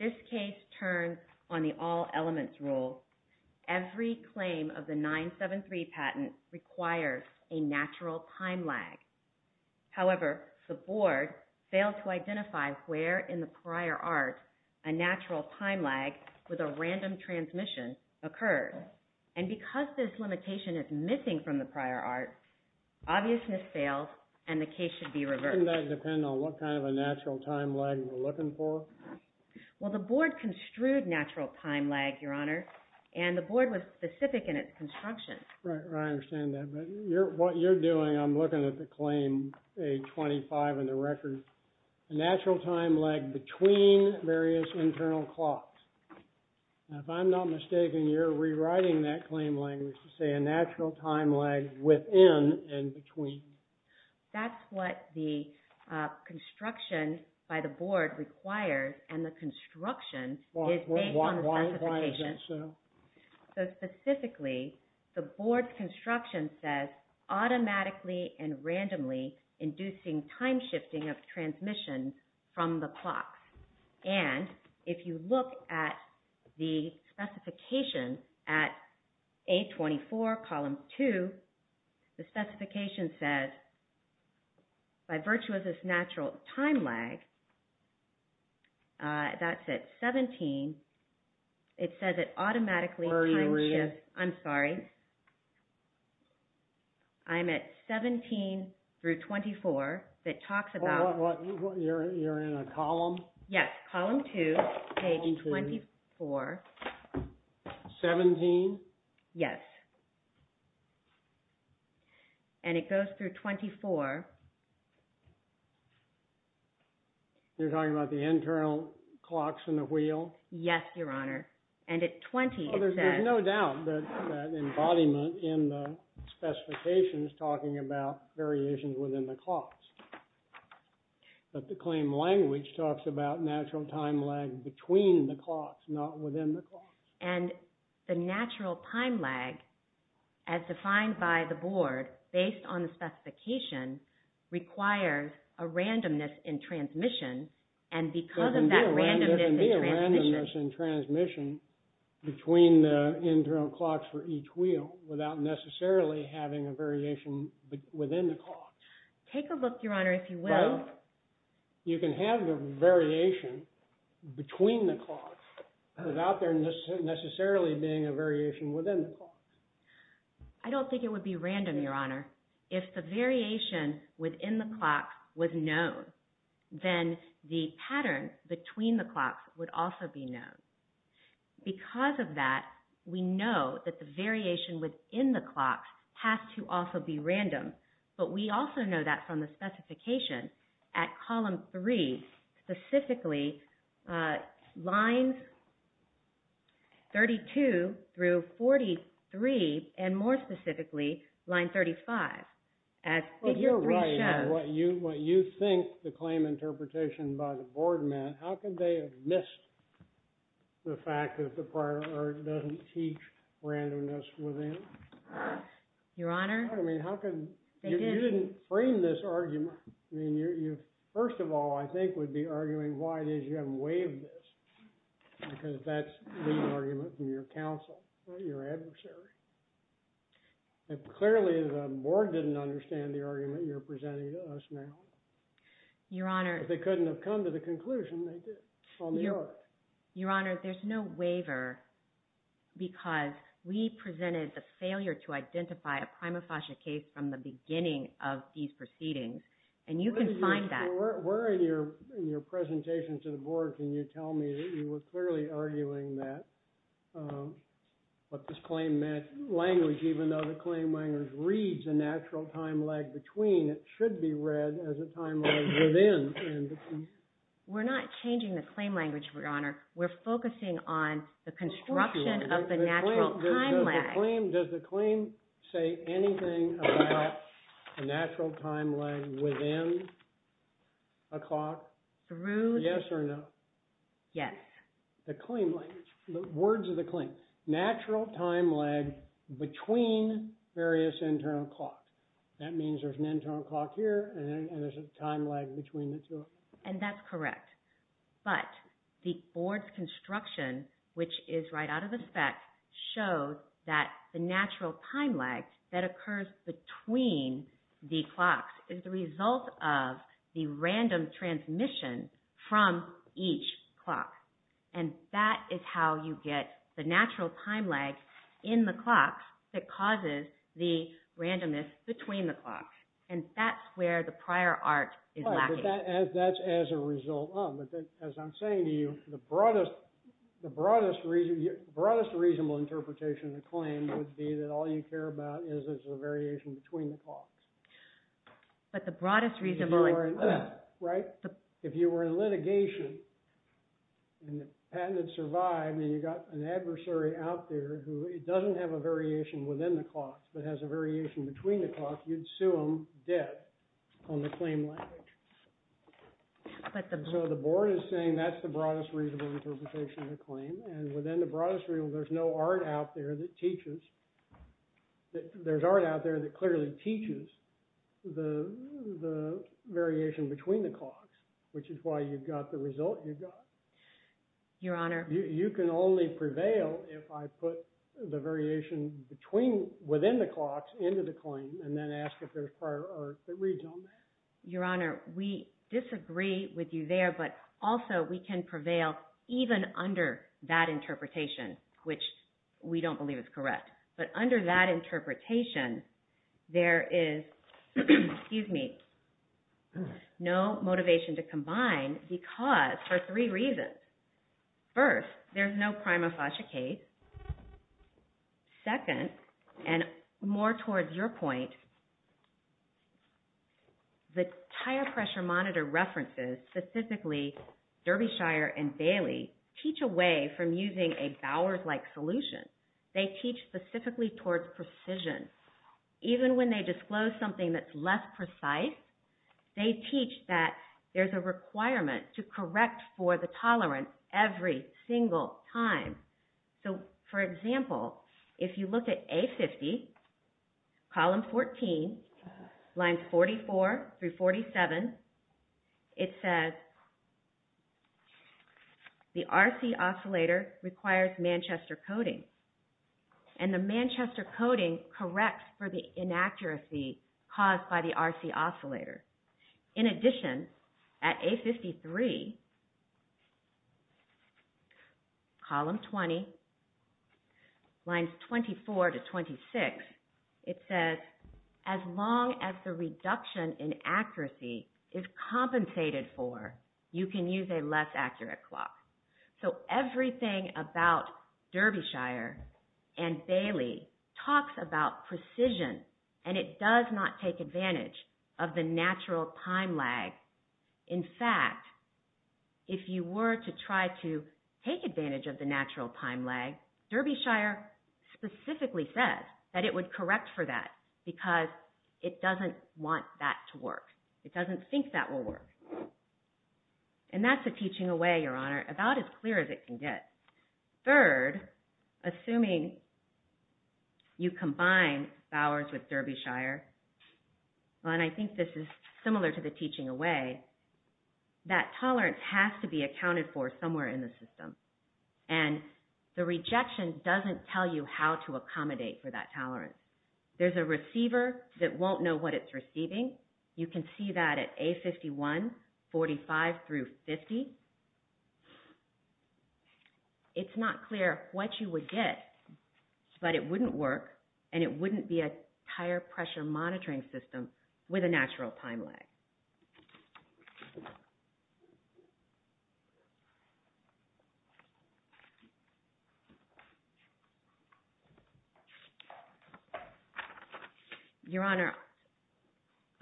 This case turns on the all elements rule. Every claim of the 973 patent requires a natural time lag. However, the board failed to identify where in the prior art a natural time lag with a random transmission occurred. And because this limitation is missing from the prior art, obviousness fails and the case should be reversed. Doesn't that depend on what kind of a natural time lag we're looking for? Well, the board construed natural time lag, your honor, and the board was specific in its construction. Right, I understand that. But what you're doing, I'm looking at the claim, page 25 in the record, a natural time lag between various internal clocks. If I'm not mistaken, you're rewriting that claim language to say a natural time lag within and between. That's what the construction by the board requires and the construction is based on the specification. Why is that so? So specifically, the board's construction says automatically and randomly inducing time shifting of transmission from the clock. And if you look at the specification at 824 column 2, the specification says, by virtue of this natural time lag, that's at 17, it says it automatically time shifts. I'm sorry, I'm at 17 through 24 that talks about. You're in a column? Yes, column 2, page 24. 17? Yes. And it goes through 24. You're talking about the internal clocks in the wheel? Yes, your honor. And at 20, it says. There's no doubt that embodiment in the specification is talking about variations within the clocks. But the claim language talks about natural time lag between the clocks, not within the clocks. And the natural time lag, as defined by the board, based on the specification, requires a randomness in transmission. So there can be a randomness in transmission between the internal clocks for each wheel without necessarily having a variation within the clocks. Take a look, your honor, if you will. But you can have the variation between the clocks without there necessarily being a variation within the clocks. I don't think it would be random, your honor. Your honor, if the variation within the clocks was known, then the pattern between the clocks would also be known. Because of that, we know that the variation within the clocks has to also be random. But we also know that from the specification at column 3, specifically lines 32 through 43, and more specifically, line 35, as figure 3 shows. But you're right. What you think the claim interpretation by the board meant, how could they have missed the fact that the prior art doesn't teach randomness within? Your honor? I mean, how could? They didn't. You didn't frame this argument. I mean, you first of all, I think, would be arguing why it is you haven't waived this. Because that's the argument from your counsel, your adversary. Clearly, the board didn't understand the argument you're presenting to us now. Your honor. But they couldn't have come to the conclusion they did on the art. Your honor, there's no waiver because we presented the failure to identify a prima facie case from the beginning of these proceedings. And you can find that. Your honor, where in your presentation to the board can you tell me that you were clearly arguing that what this claim meant, language, even though the claim language reads a natural time lag between, it should be read as a time lag within. We're not changing the claim language, your honor. We're focusing on the construction of the natural time lag. Does the claim say anything about a natural time lag within a clock? Through? Yes or no? Yes. The claim language, the words of the claim, natural time lag between various internal clocks. That means there's an internal clock here and there's a time lag between the two of them. And that's correct. But the board's construction, which is right out of the spec, shows that the natural time lag that occurs between the clocks is the result of the random transmission from each clock. And that is how you get the natural time lag in the clocks that causes the randomness between the clocks. And that's where the prior art is lacking. That's as a result of. But as I'm saying to you, the broadest reasonable interpretation of the claim would be that all you care about is the variation between the clocks. But the broadest reasonable interpretation. Right? If you were in litigation and the patent had survived and you got an adversary out there who doesn't have a variation within the clocks but has a variation between the clocks, you'd So the board is saying that's the broadest reasonable interpretation of the claim. And within the broadest reasonable, there's no art out there that teaches. There's art out there that clearly teaches the variation between the clocks, which is why you've got the result you've got. Your Honor. You can only prevail if I put the variation within the clocks into the claim and then ask if there's prior art that reads on that. Your Honor, we disagree with you there, but also we can prevail even under that interpretation, which we don't believe is correct. But under that interpretation, there is no motivation to combine because for three reasons. First, there's no prima facie case. Second, and more towards your point, the Tire Pressure Monitor references, specifically Derbyshire and Bailey, teach a way from using a Bowers-like solution. They teach specifically towards precision. Even when they disclose something that's less precise, they teach that there's a requirement to correct for the tolerance every single time. So, for example, if you look at A50, column 14, lines 44 through 47, it says the RC oscillator requires Manchester coding. And the Manchester coding corrects for the inaccuracy caused by the RC oscillator. In addition, at A53, column 20, lines 24 to 26, it says, as long as the reduction in accuracy is compensated for, you can use a less accurate clock. So everything about Derbyshire and Bailey talks about precision and it does not take advantage of the natural time lag. In fact, if you were to try to take advantage of the natural time lag, Derbyshire specifically says that it would correct for that because it doesn't want that to work. It doesn't think that will work. And that's a teaching away, Your Honor, about as clear as it can get. Third, assuming you combine Bowers with Derbyshire, and I think this is similar to the teaching away, that tolerance has to be accounted for somewhere in the system. And the rejection doesn't tell you how to accommodate for that tolerance. There's a receiver that won't know what it's receiving. You can see that at A51, 45 through 50. It's not clear what you would get, but it wouldn't work and it wouldn't be a tire pressure monitoring system with a natural time lag. Your Honor,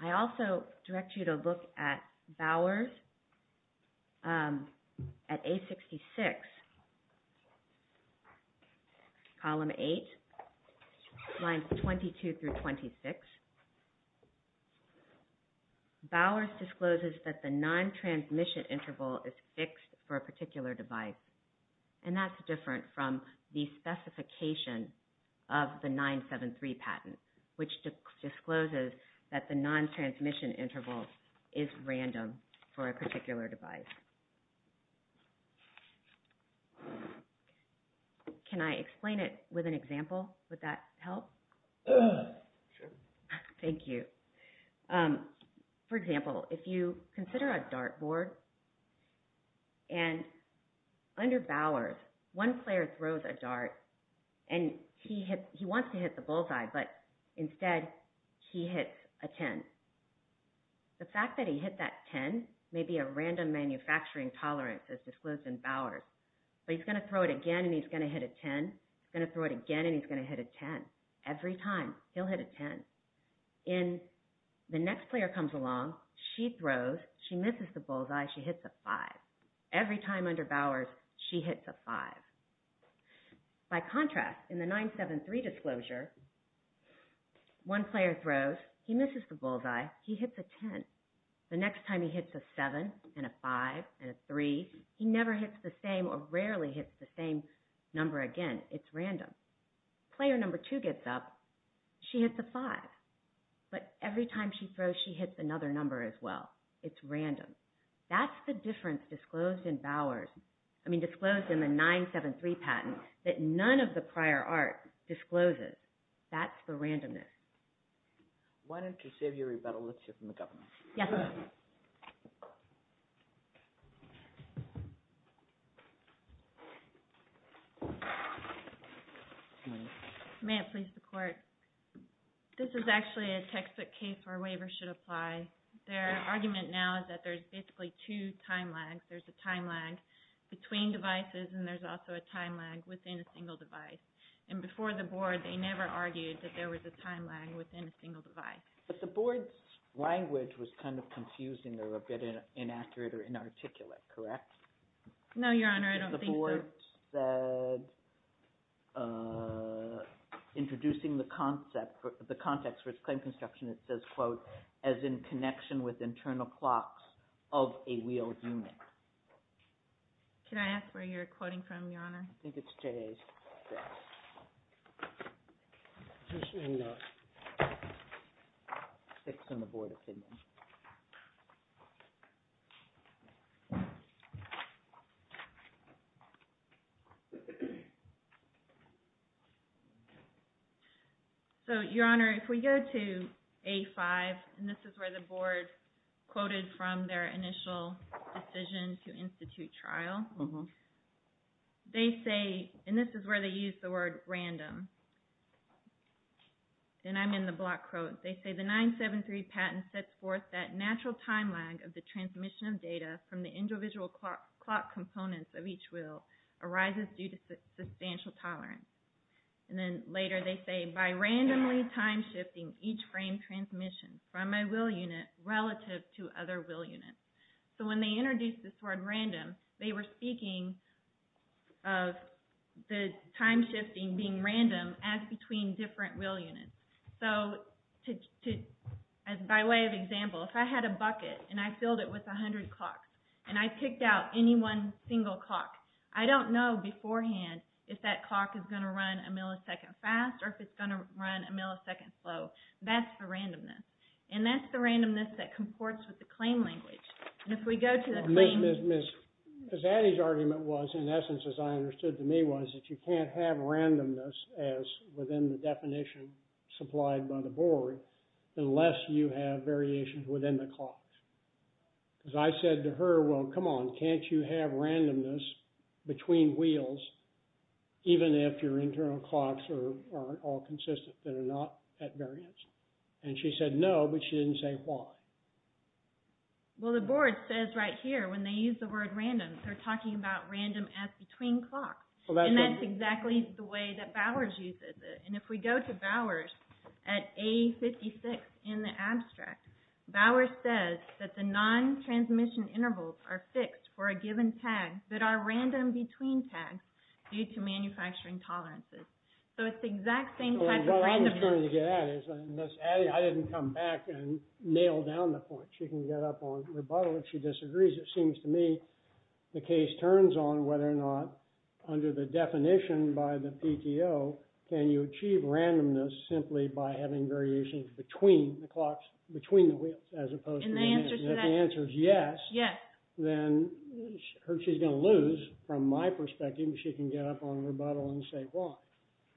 I also direct you to look at Bowers at A66, Column 8, Lines 22 through 26. Bowers discloses that the non-transmission interval is fixed for a particular device, and that's different from the specification of the 973 patent, which discloses that the non-transmission interval is random for a particular device. Can I explain it with an example? Would that help? Sure. Thank you. For example, if you consider a dart board, and under Bowers, one player throws a dart, and he wants to hit the bullseye, but instead he hits a 10. The fact that he hit that 10 may be a random manufacturing tolerance as disclosed in Bowers, but he's going to throw it again and he's going to hit a 10, he's going to throw it again and he's going to hit a 10. Every time, he'll hit a 10. The next player comes along, she throws, she misses the bullseye, she hits a 5. Every time under Bowers, she hits a 5. By contrast, in the 973 disclosure, one player throws, he misses the bullseye, he hits a 10. The next time he hits a 7 and a 5 and a 3, he never hits the same or rarely hits the same number again. It's random. Player number 2 gets up, she hits a 5. But every time she throws, she hits another number as well. It's random. That's the difference disclosed in Bowers, I mean disclosed in the 973 patent, that none of the prior art discloses. That's the randomness. Why don't you save your rebuttal? Let's hear from the government. Yes. May it please the court. This is actually a textbook case where a waiver should apply. Their argument now is that there's basically two time lags. There's a time lag between devices and there's also a time lag within a single device. And before the board, they never argued that there was a time lag within a single device. But the board's language was kind of confusing or a bit inaccurate or inarticulate, correct? No, Your Honor, I don't think so. The board said, introducing the context for its claim construction, it says, quote, as in connection with internal clocks of a wheeled unit. Can I ask where you're quoting from, Your Honor? I think it's J.A.'s. It's in the board opinion. So, Your Honor, if we go to A5, and this is where the board quoted from their initial decision to institute trial, they say, and this is where they use the word random, and I'm in the block quote, they say, the 973 patent sets forth that natural time lag of the transmission of data from the individual clock components of each wheel arises due to substantial tolerance. And then later they say, by randomly time shifting each frame transmission from a wheel unit relative to other wheel units. So when they introduced this word random, they were speaking of the time shifting being random as between different wheel units. So, by way of example, if I had a bucket and I filled it with 100 clocks, and I picked out any one single clock, I don't know beforehand if that clock is going to run a millisecond fast or if it's going to run a millisecond slow. That's the randomness. And that's the randomness that comports with the claim language. And if we go to the claim... Miss, Miss, Miss. Because Annie's argument was, in essence, as I understood to me, was that you can't have randomness as within the definition supplied by the board unless you have variations within the clock. Because I said to her, well, come on, can't you have randomness between wheels even if your internal clocks are all consistent, they're not at variance? And she said no, but she didn't say why. Well, the board says right here, when they use the word random, they're talking about random as between clocks. And that's exactly the way that Bowers uses it. And if we go to Bowers at A56 in the abstract, Bowers says that the non-transmission intervals are fixed for a given tag that are random between tags due to manufacturing tolerances. So, it's the exact same type of randomness. What I was trying to get at is, Miss Annie, I didn't come back and nail down the point. She can get up on rebuttal if she disagrees. It seems to me the case turns on whether or not, under the definition by the PTO, can you achieve randomness simply by having variations between the clocks, between the wheels, as opposed to... And the answer to that... If the answer is yes... Yes. Then she's going to lose, from my perspective, if she can get up on rebuttal and say why.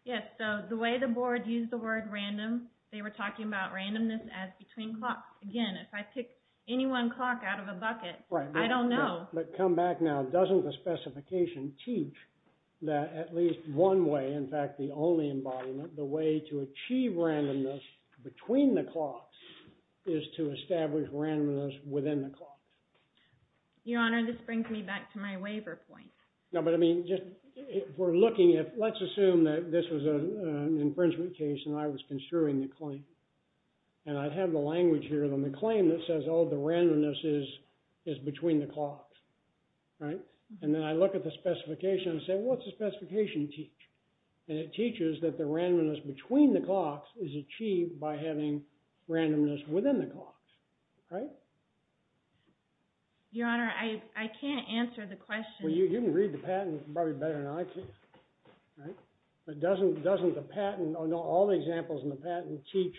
Yes. So, the way the board used the word random, they were talking about randomness as between clocks. Again, if I pick any one clock out of a bucket, I don't know. But come back now. Doesn't the specification teach that at least one way, in fact the only embodiment, the way to achieve randomness between the clocks is to establish randomness within the clocks? Your Honor, this brings me back to my waiver point. No, but I mean, if we're looking at... Let's assume that this was an infringement case and I was construing the claim. And I'd have the language here on the claim that says, oh, the randomness is between the clocks. Right? And then I look at the specification and say, well, what's the specification teach? And it teaches that the randomness between the clocks is achieved by having randomness within the clocks. Right? Your Honor, I can't answer the question. Well, you can read the patent probably better than I can. Right? But doesn't the patent or all the examples in the patent teach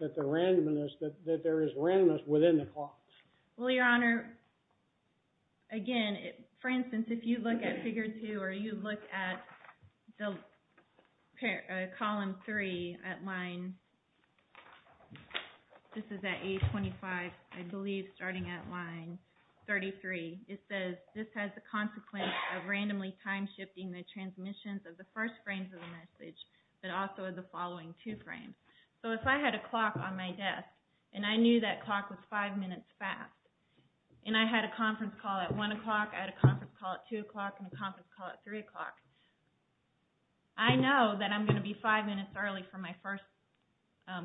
that there is randomness within the clocks? Well, Your Honor, again, for instance, if you look at Figure 2 or you look at column 3 at line... This is at page 25, I believe, starting at line 33. It says, this has the consequence of randomly time-shifting the transmissions of the first frames of the message but also of the following two frames. So if I had a clock on my desk and I knew that clock was five minutes fast and I had a conference call at 1 o'clock, I had a conference call at 2 o'clock, and a conference call at 3 o'clock, I know that I'm going to be five minutes early for my first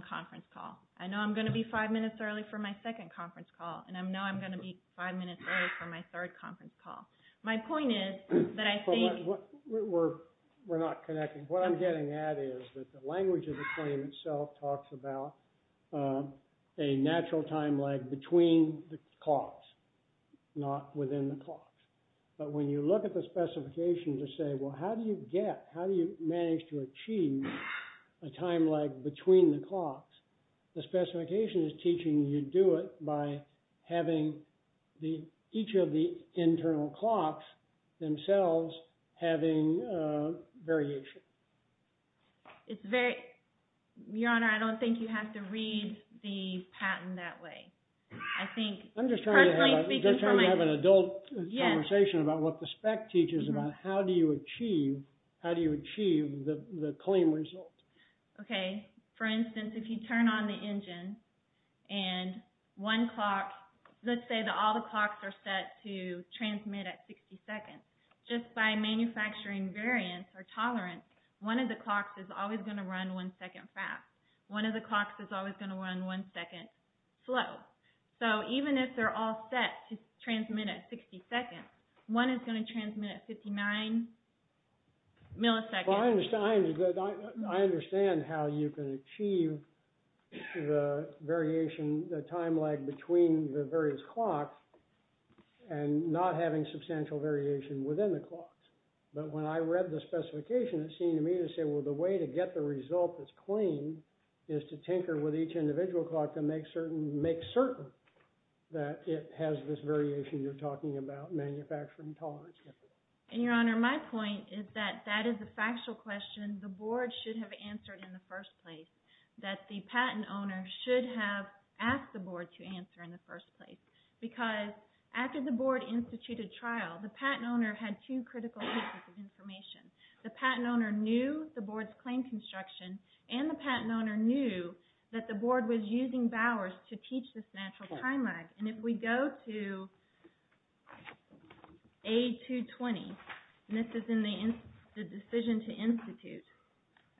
conference call. I know I'm going to be five minutes early for my second conference call. And I know I'm going to be five minutes early for my third conference call. My point is that I think... We're not connecting. What I'm getting at is that the language of the claim itself talks about a natural time lag between the clocks, not within the clocks. But when you look at the specification to say, well, how do you get, how do you manage to achieve a time lag between the clocks, the specification is teaching you do it by having each of the internal clocks themselves having variation. It's very... Your Honor, I don't think you have to read the patent that way. I think... I'm just trying to have an adult conversation about what the spec teaches about how do you achieve, how do you achieve the claim result. Okay. For instance, if you turn on the engine, and one clock... Let's say that all the clocks are set to transmit at 60 seconds. Just by manufacturing variance or tolerance, one of the clocks is always going to run one second fast. One of the clocks is always going to run one second slow. So even if they're all set to transmit at 60 seconds, one is going to transmit at 59 milliseconds. I understand how you can achieve the variation, the time lag between the various clocks, and not having substantial variation within the clocks. But when I read the specification, it seemed to me to say, well, the way to get the result that's clean is to tinker with each individual clock to make certain that it has this variation you're talking about, manufacturing tolerance. And, Your Honor, my point is that that is a factual question the board should have answered in the first place, that the patent owner should have asked the board to answer in the first place. Because after the board instituted trial, the patent owner had two critical pieces of information. The patent owner knew the board's claim construction, and the patent owner knew that the board was using Bowers to teach this natural time lag. And if we go to A220, and this is in the decision to institute,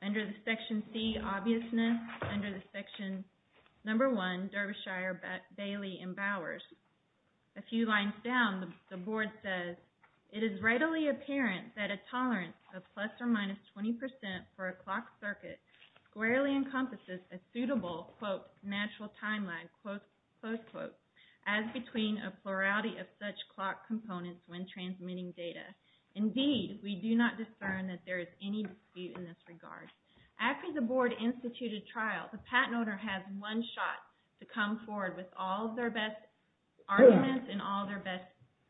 under the section C, obviousness, under the section number 1, Derbyshire, Bailey, and Bowers, a few lines down, the board says, it is readily apparent that a tolerance of plus or minus 20% for a clock circuit squarely encompasses a suitable, quote, natural time lag, close quote, as between a plurality of such clock components when transmitting data. Indeed, we do not discern that there is any dispute in this regard. After the board instituted trial, the patent owner had one shot to come forward with all of their best arguments and all of their best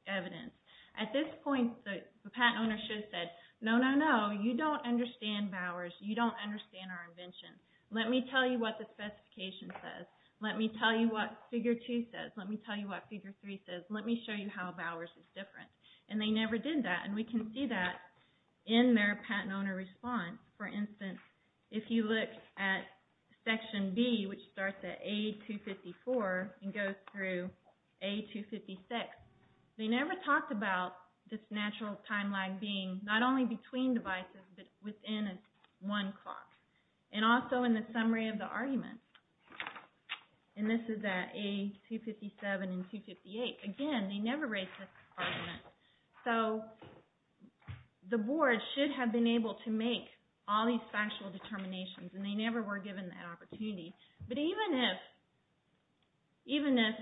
evidence. At this point, the patent owner should have said, no, no, no, you don't understand Bowers. You don't understand our invention. Let me tell you what the specification says. Let me tell you what figure 2 says. Let me tell you what figure 3 says. Let me show you how Bowers is different. And they never did that. And we can see that in their patent owner response. For instance, if you look at section B, which starts at A254 and goes through A256, they never talked about this natural time lag being not only between devices but within one clock. And also in the summary of the argument. And this is at A257 and A258. Again, they never raised this argument. So the board should have been able to make all these factual determinations, and they never were given that opportunity. But even if, even if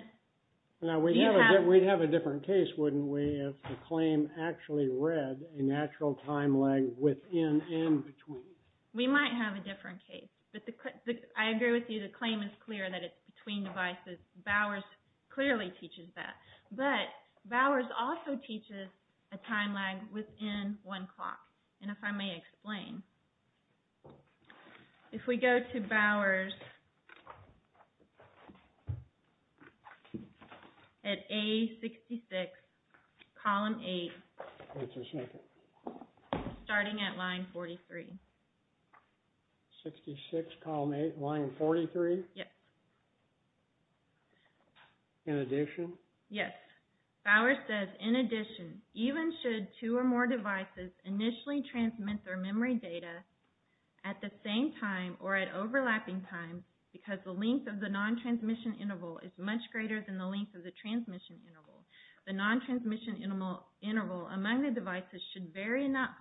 you have... Now, we'd have a different case, wouldn't we, if the claim actually read a natural time lag within and between? We might have a different case. But I agree with you, the claim is clear that it's between devices. Bowers clearly teaches that. But Bowers also teaches a time lag within one clock. And if I may explain. If we go to Bowers at A66, column 8, starting at line 43. 66, column 8, line 43? Yes. In addition? Yes. Bowers says, in addition, even should two or more devices initially transmit their memory data at the same time or at overlapping times, because the length of the non-transmission interval is much greater than the length of the transmission interval, the non-transmission interval among the devices should vary enough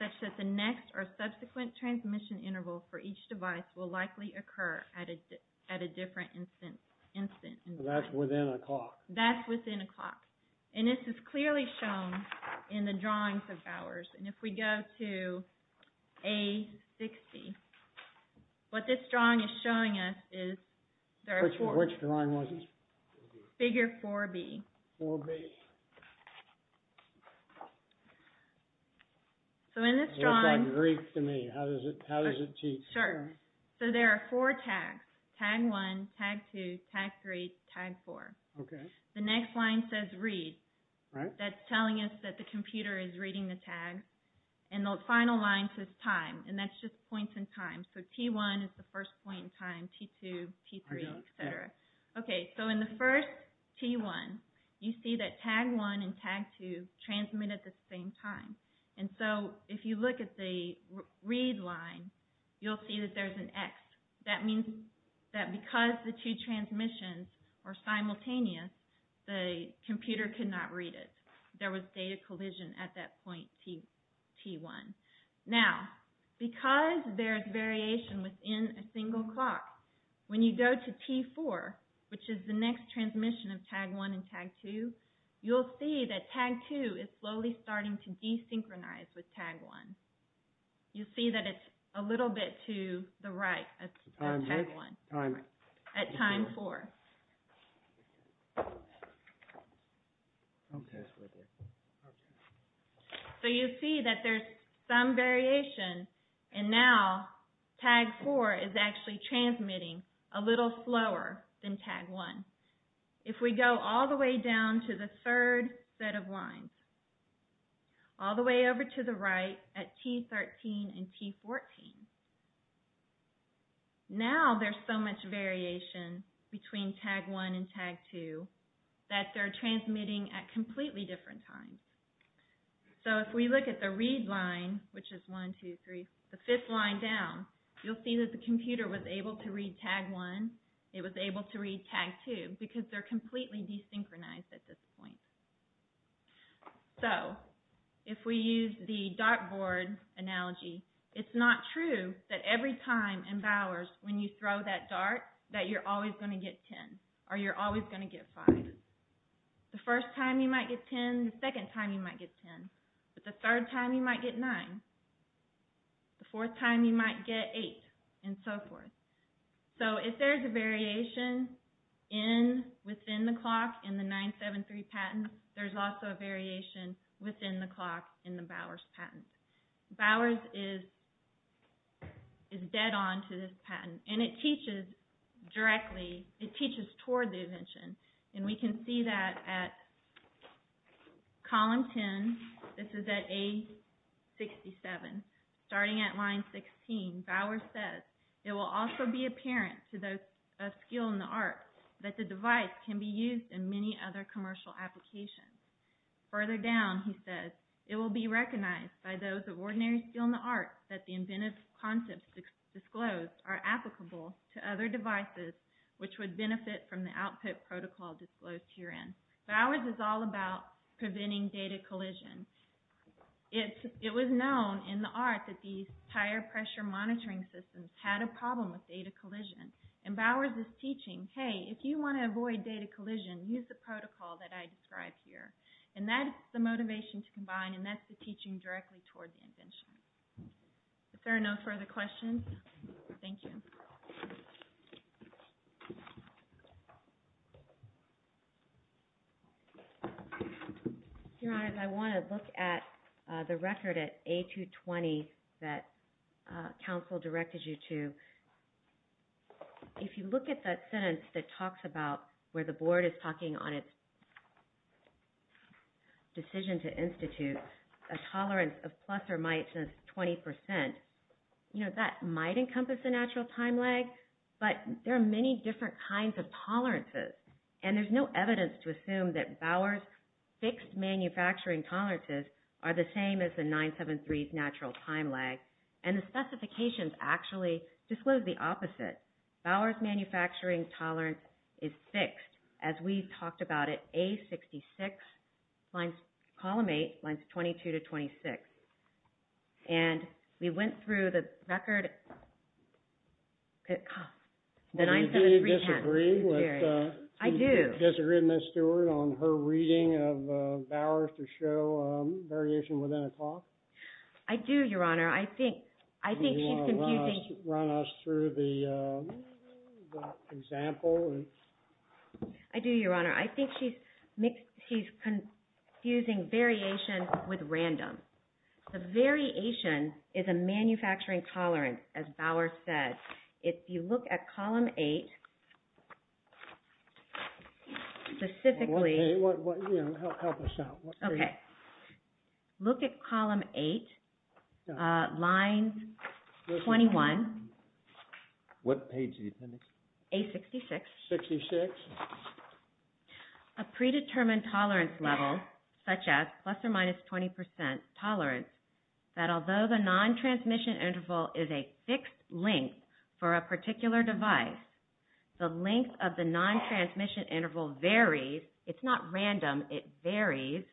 such that the next or subsequent transmission interval for each device will likely occur at a different instant. That's within a clock. That's within a clock. And this is clearly shown in the drawings of Bowers. And if we go to A60, what this drawing is showing us is there are four. Which drawing was it? Figure 4B. 4B. So in this drawing. It looks like Greek to me. How does it teach? Sure. So there are four tags. Tag 1, tag 2, tag 3, tag 4. Okay. The next line says read. That's telling us that the computer is reading the tag. And the final line says time. And that's just points in time. So T1 is the first point in time, T2, T3, et cetera. Okay. So in the first T1, you see that tag 1 and tag 2 transmit at the same time. And so if you look at the read line, you'll see that there's an X. That means that because the two transmissions are simultaneous, the computer cannot read it. There was data collision at that point, T1. Now, because there's variation within a single clock, when you go to T4, which is the next transmission of tag 1 and tag 2, you'll see that tag 2 is slowly starting to desynchronize with tag 1. You see that it's a little bit to the right of tag 1 at time 4. So you see that there's some variation, and now tag 4 is actually transmitting a little slower than tag 1. If we go all the way down to the third set of lines, all the way over to the right at T13 and T14, now there's so much variation between tag 1 and tag 2 that they're transmitting at completely different times. So if we look at the read line, which is 1, 2, 3, the fifth line down, you'll see that the computer was able to read tag 1. It was able to read tag 2 because they're completely desynchronized at this point. So, if we use the dartboard analogy, it's not true that every time in Bowers, when you throw that dart, that you're always going to get 10, or you're always going to get 5. The first time you might get 10, the second time you might get 10, but the third time you might get 9, the fourth time you might get 8, and so forth. So if there's a variation within the clock in the 973 patents, there's also a variation within the clock in the Bowers patents. Bowers is dead on to this patent, and it teaches directly, it teaches toward the invention, and we can see that at column 10, this is at A67, starting at line 16, and Bowers says, it will also be apparent to those of skill in the arts that the device can be used in many other commercial applications. Further down, he says, it will be recognized by those of ordinary skill in the arts that the inventive concepts disclosed are applicable to other devices, which would benefit from the output protocol disclosed herein. Bowers is all about preventing data collision. It was known in the art that these higher pressure monitoring systems had a problem with data collision, and Bowers is teaching, hey, if you want to avoid data collision, use the protocol that I describe here, and that's the motivation to combine, and that's the teaching directly toward the invention. If there are no further questions, thank you. Your Honor, I want to look at the record at A220 that counsel directed you to. If you look at that sentence that talks about where the board is talking on its decision to institute a tolerance of plus or minus 20%, you know, that might encompass a natural time, but there are many different kinds of tolerances, and there's no evidence to assume that Bowers' fixed manufacturing tolerances are the same as the 973's natural time lag, and the specifications actually disclose the opposite. Bowers' manufacturing tolerance is fixed, as we've talked about it, A66, column 8, lines 22 to 26. And we went through the record. Do you disagree with Ms. Stewart on her reading of Bowers to show variation within a clock? I do, Your Honor. I think she's confusing. Do you want to run us through the example? I do, Your Honor. I think she's confusing variation with random. The variation is a manufacturing tolerance, as Bowers said. If you look at column 8, specifically. Help us out. Okay. Look at column 8, line 21. What page are you looking at? A66. 66. A predetermined tolerance level, such as plus or minus 20% tolerance, that although the non-transmission interval is a fixed length for a particular device, the length of the non-transmission interval varies. It's not random. It varies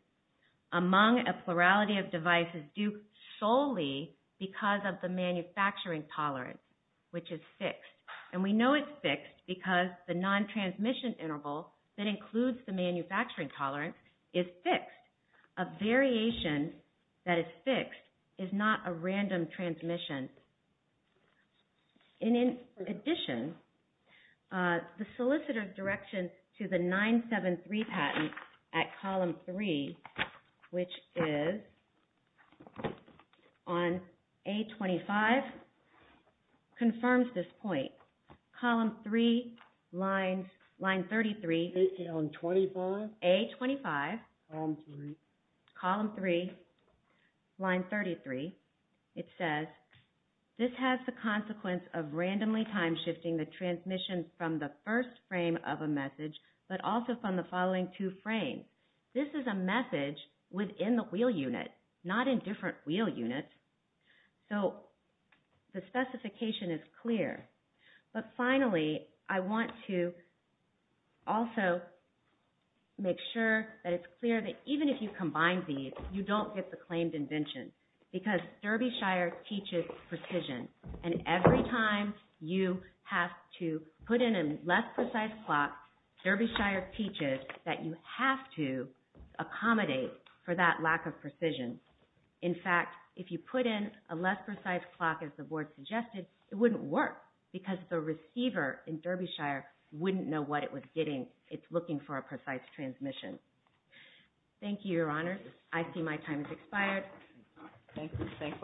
among a plurality of devices due solely because of the manufacturing tolerance, which is fixed. And we know it's fixed because the non-transmission interval that includes the manufacturing tolerance is fixed. A variation that is fixed is not a random transmission. In addition, the solicitor's direction to the 973 patent at column 3, which is on A25, confirms this point. Column 3, line 33. Is it on 25? A25. Column 3. Column 3, line 33. It says, this has the consequence of randomly time-shifting the transmission from the first frame of a message, but also from the following two frames. This is a message within the wheel unit, not in different wheel units. So the specification is clear. But finally, I want to also make sure that it's clear that even if you combine these, you don't get the claimed invention because Derbyshire teaches precision. And every time you have to put in a less precise clock, Derbyshire teaches that you have to accommodate for that lack of precision. In fact, if you put in a less precise clock, as the Board suggested, it wouldn't work because the receiver in Derbyshire wouldn't know what it was getting. It's looking for a precise transmission. Thank you, Your Honors. I see my time has expired. Thank you.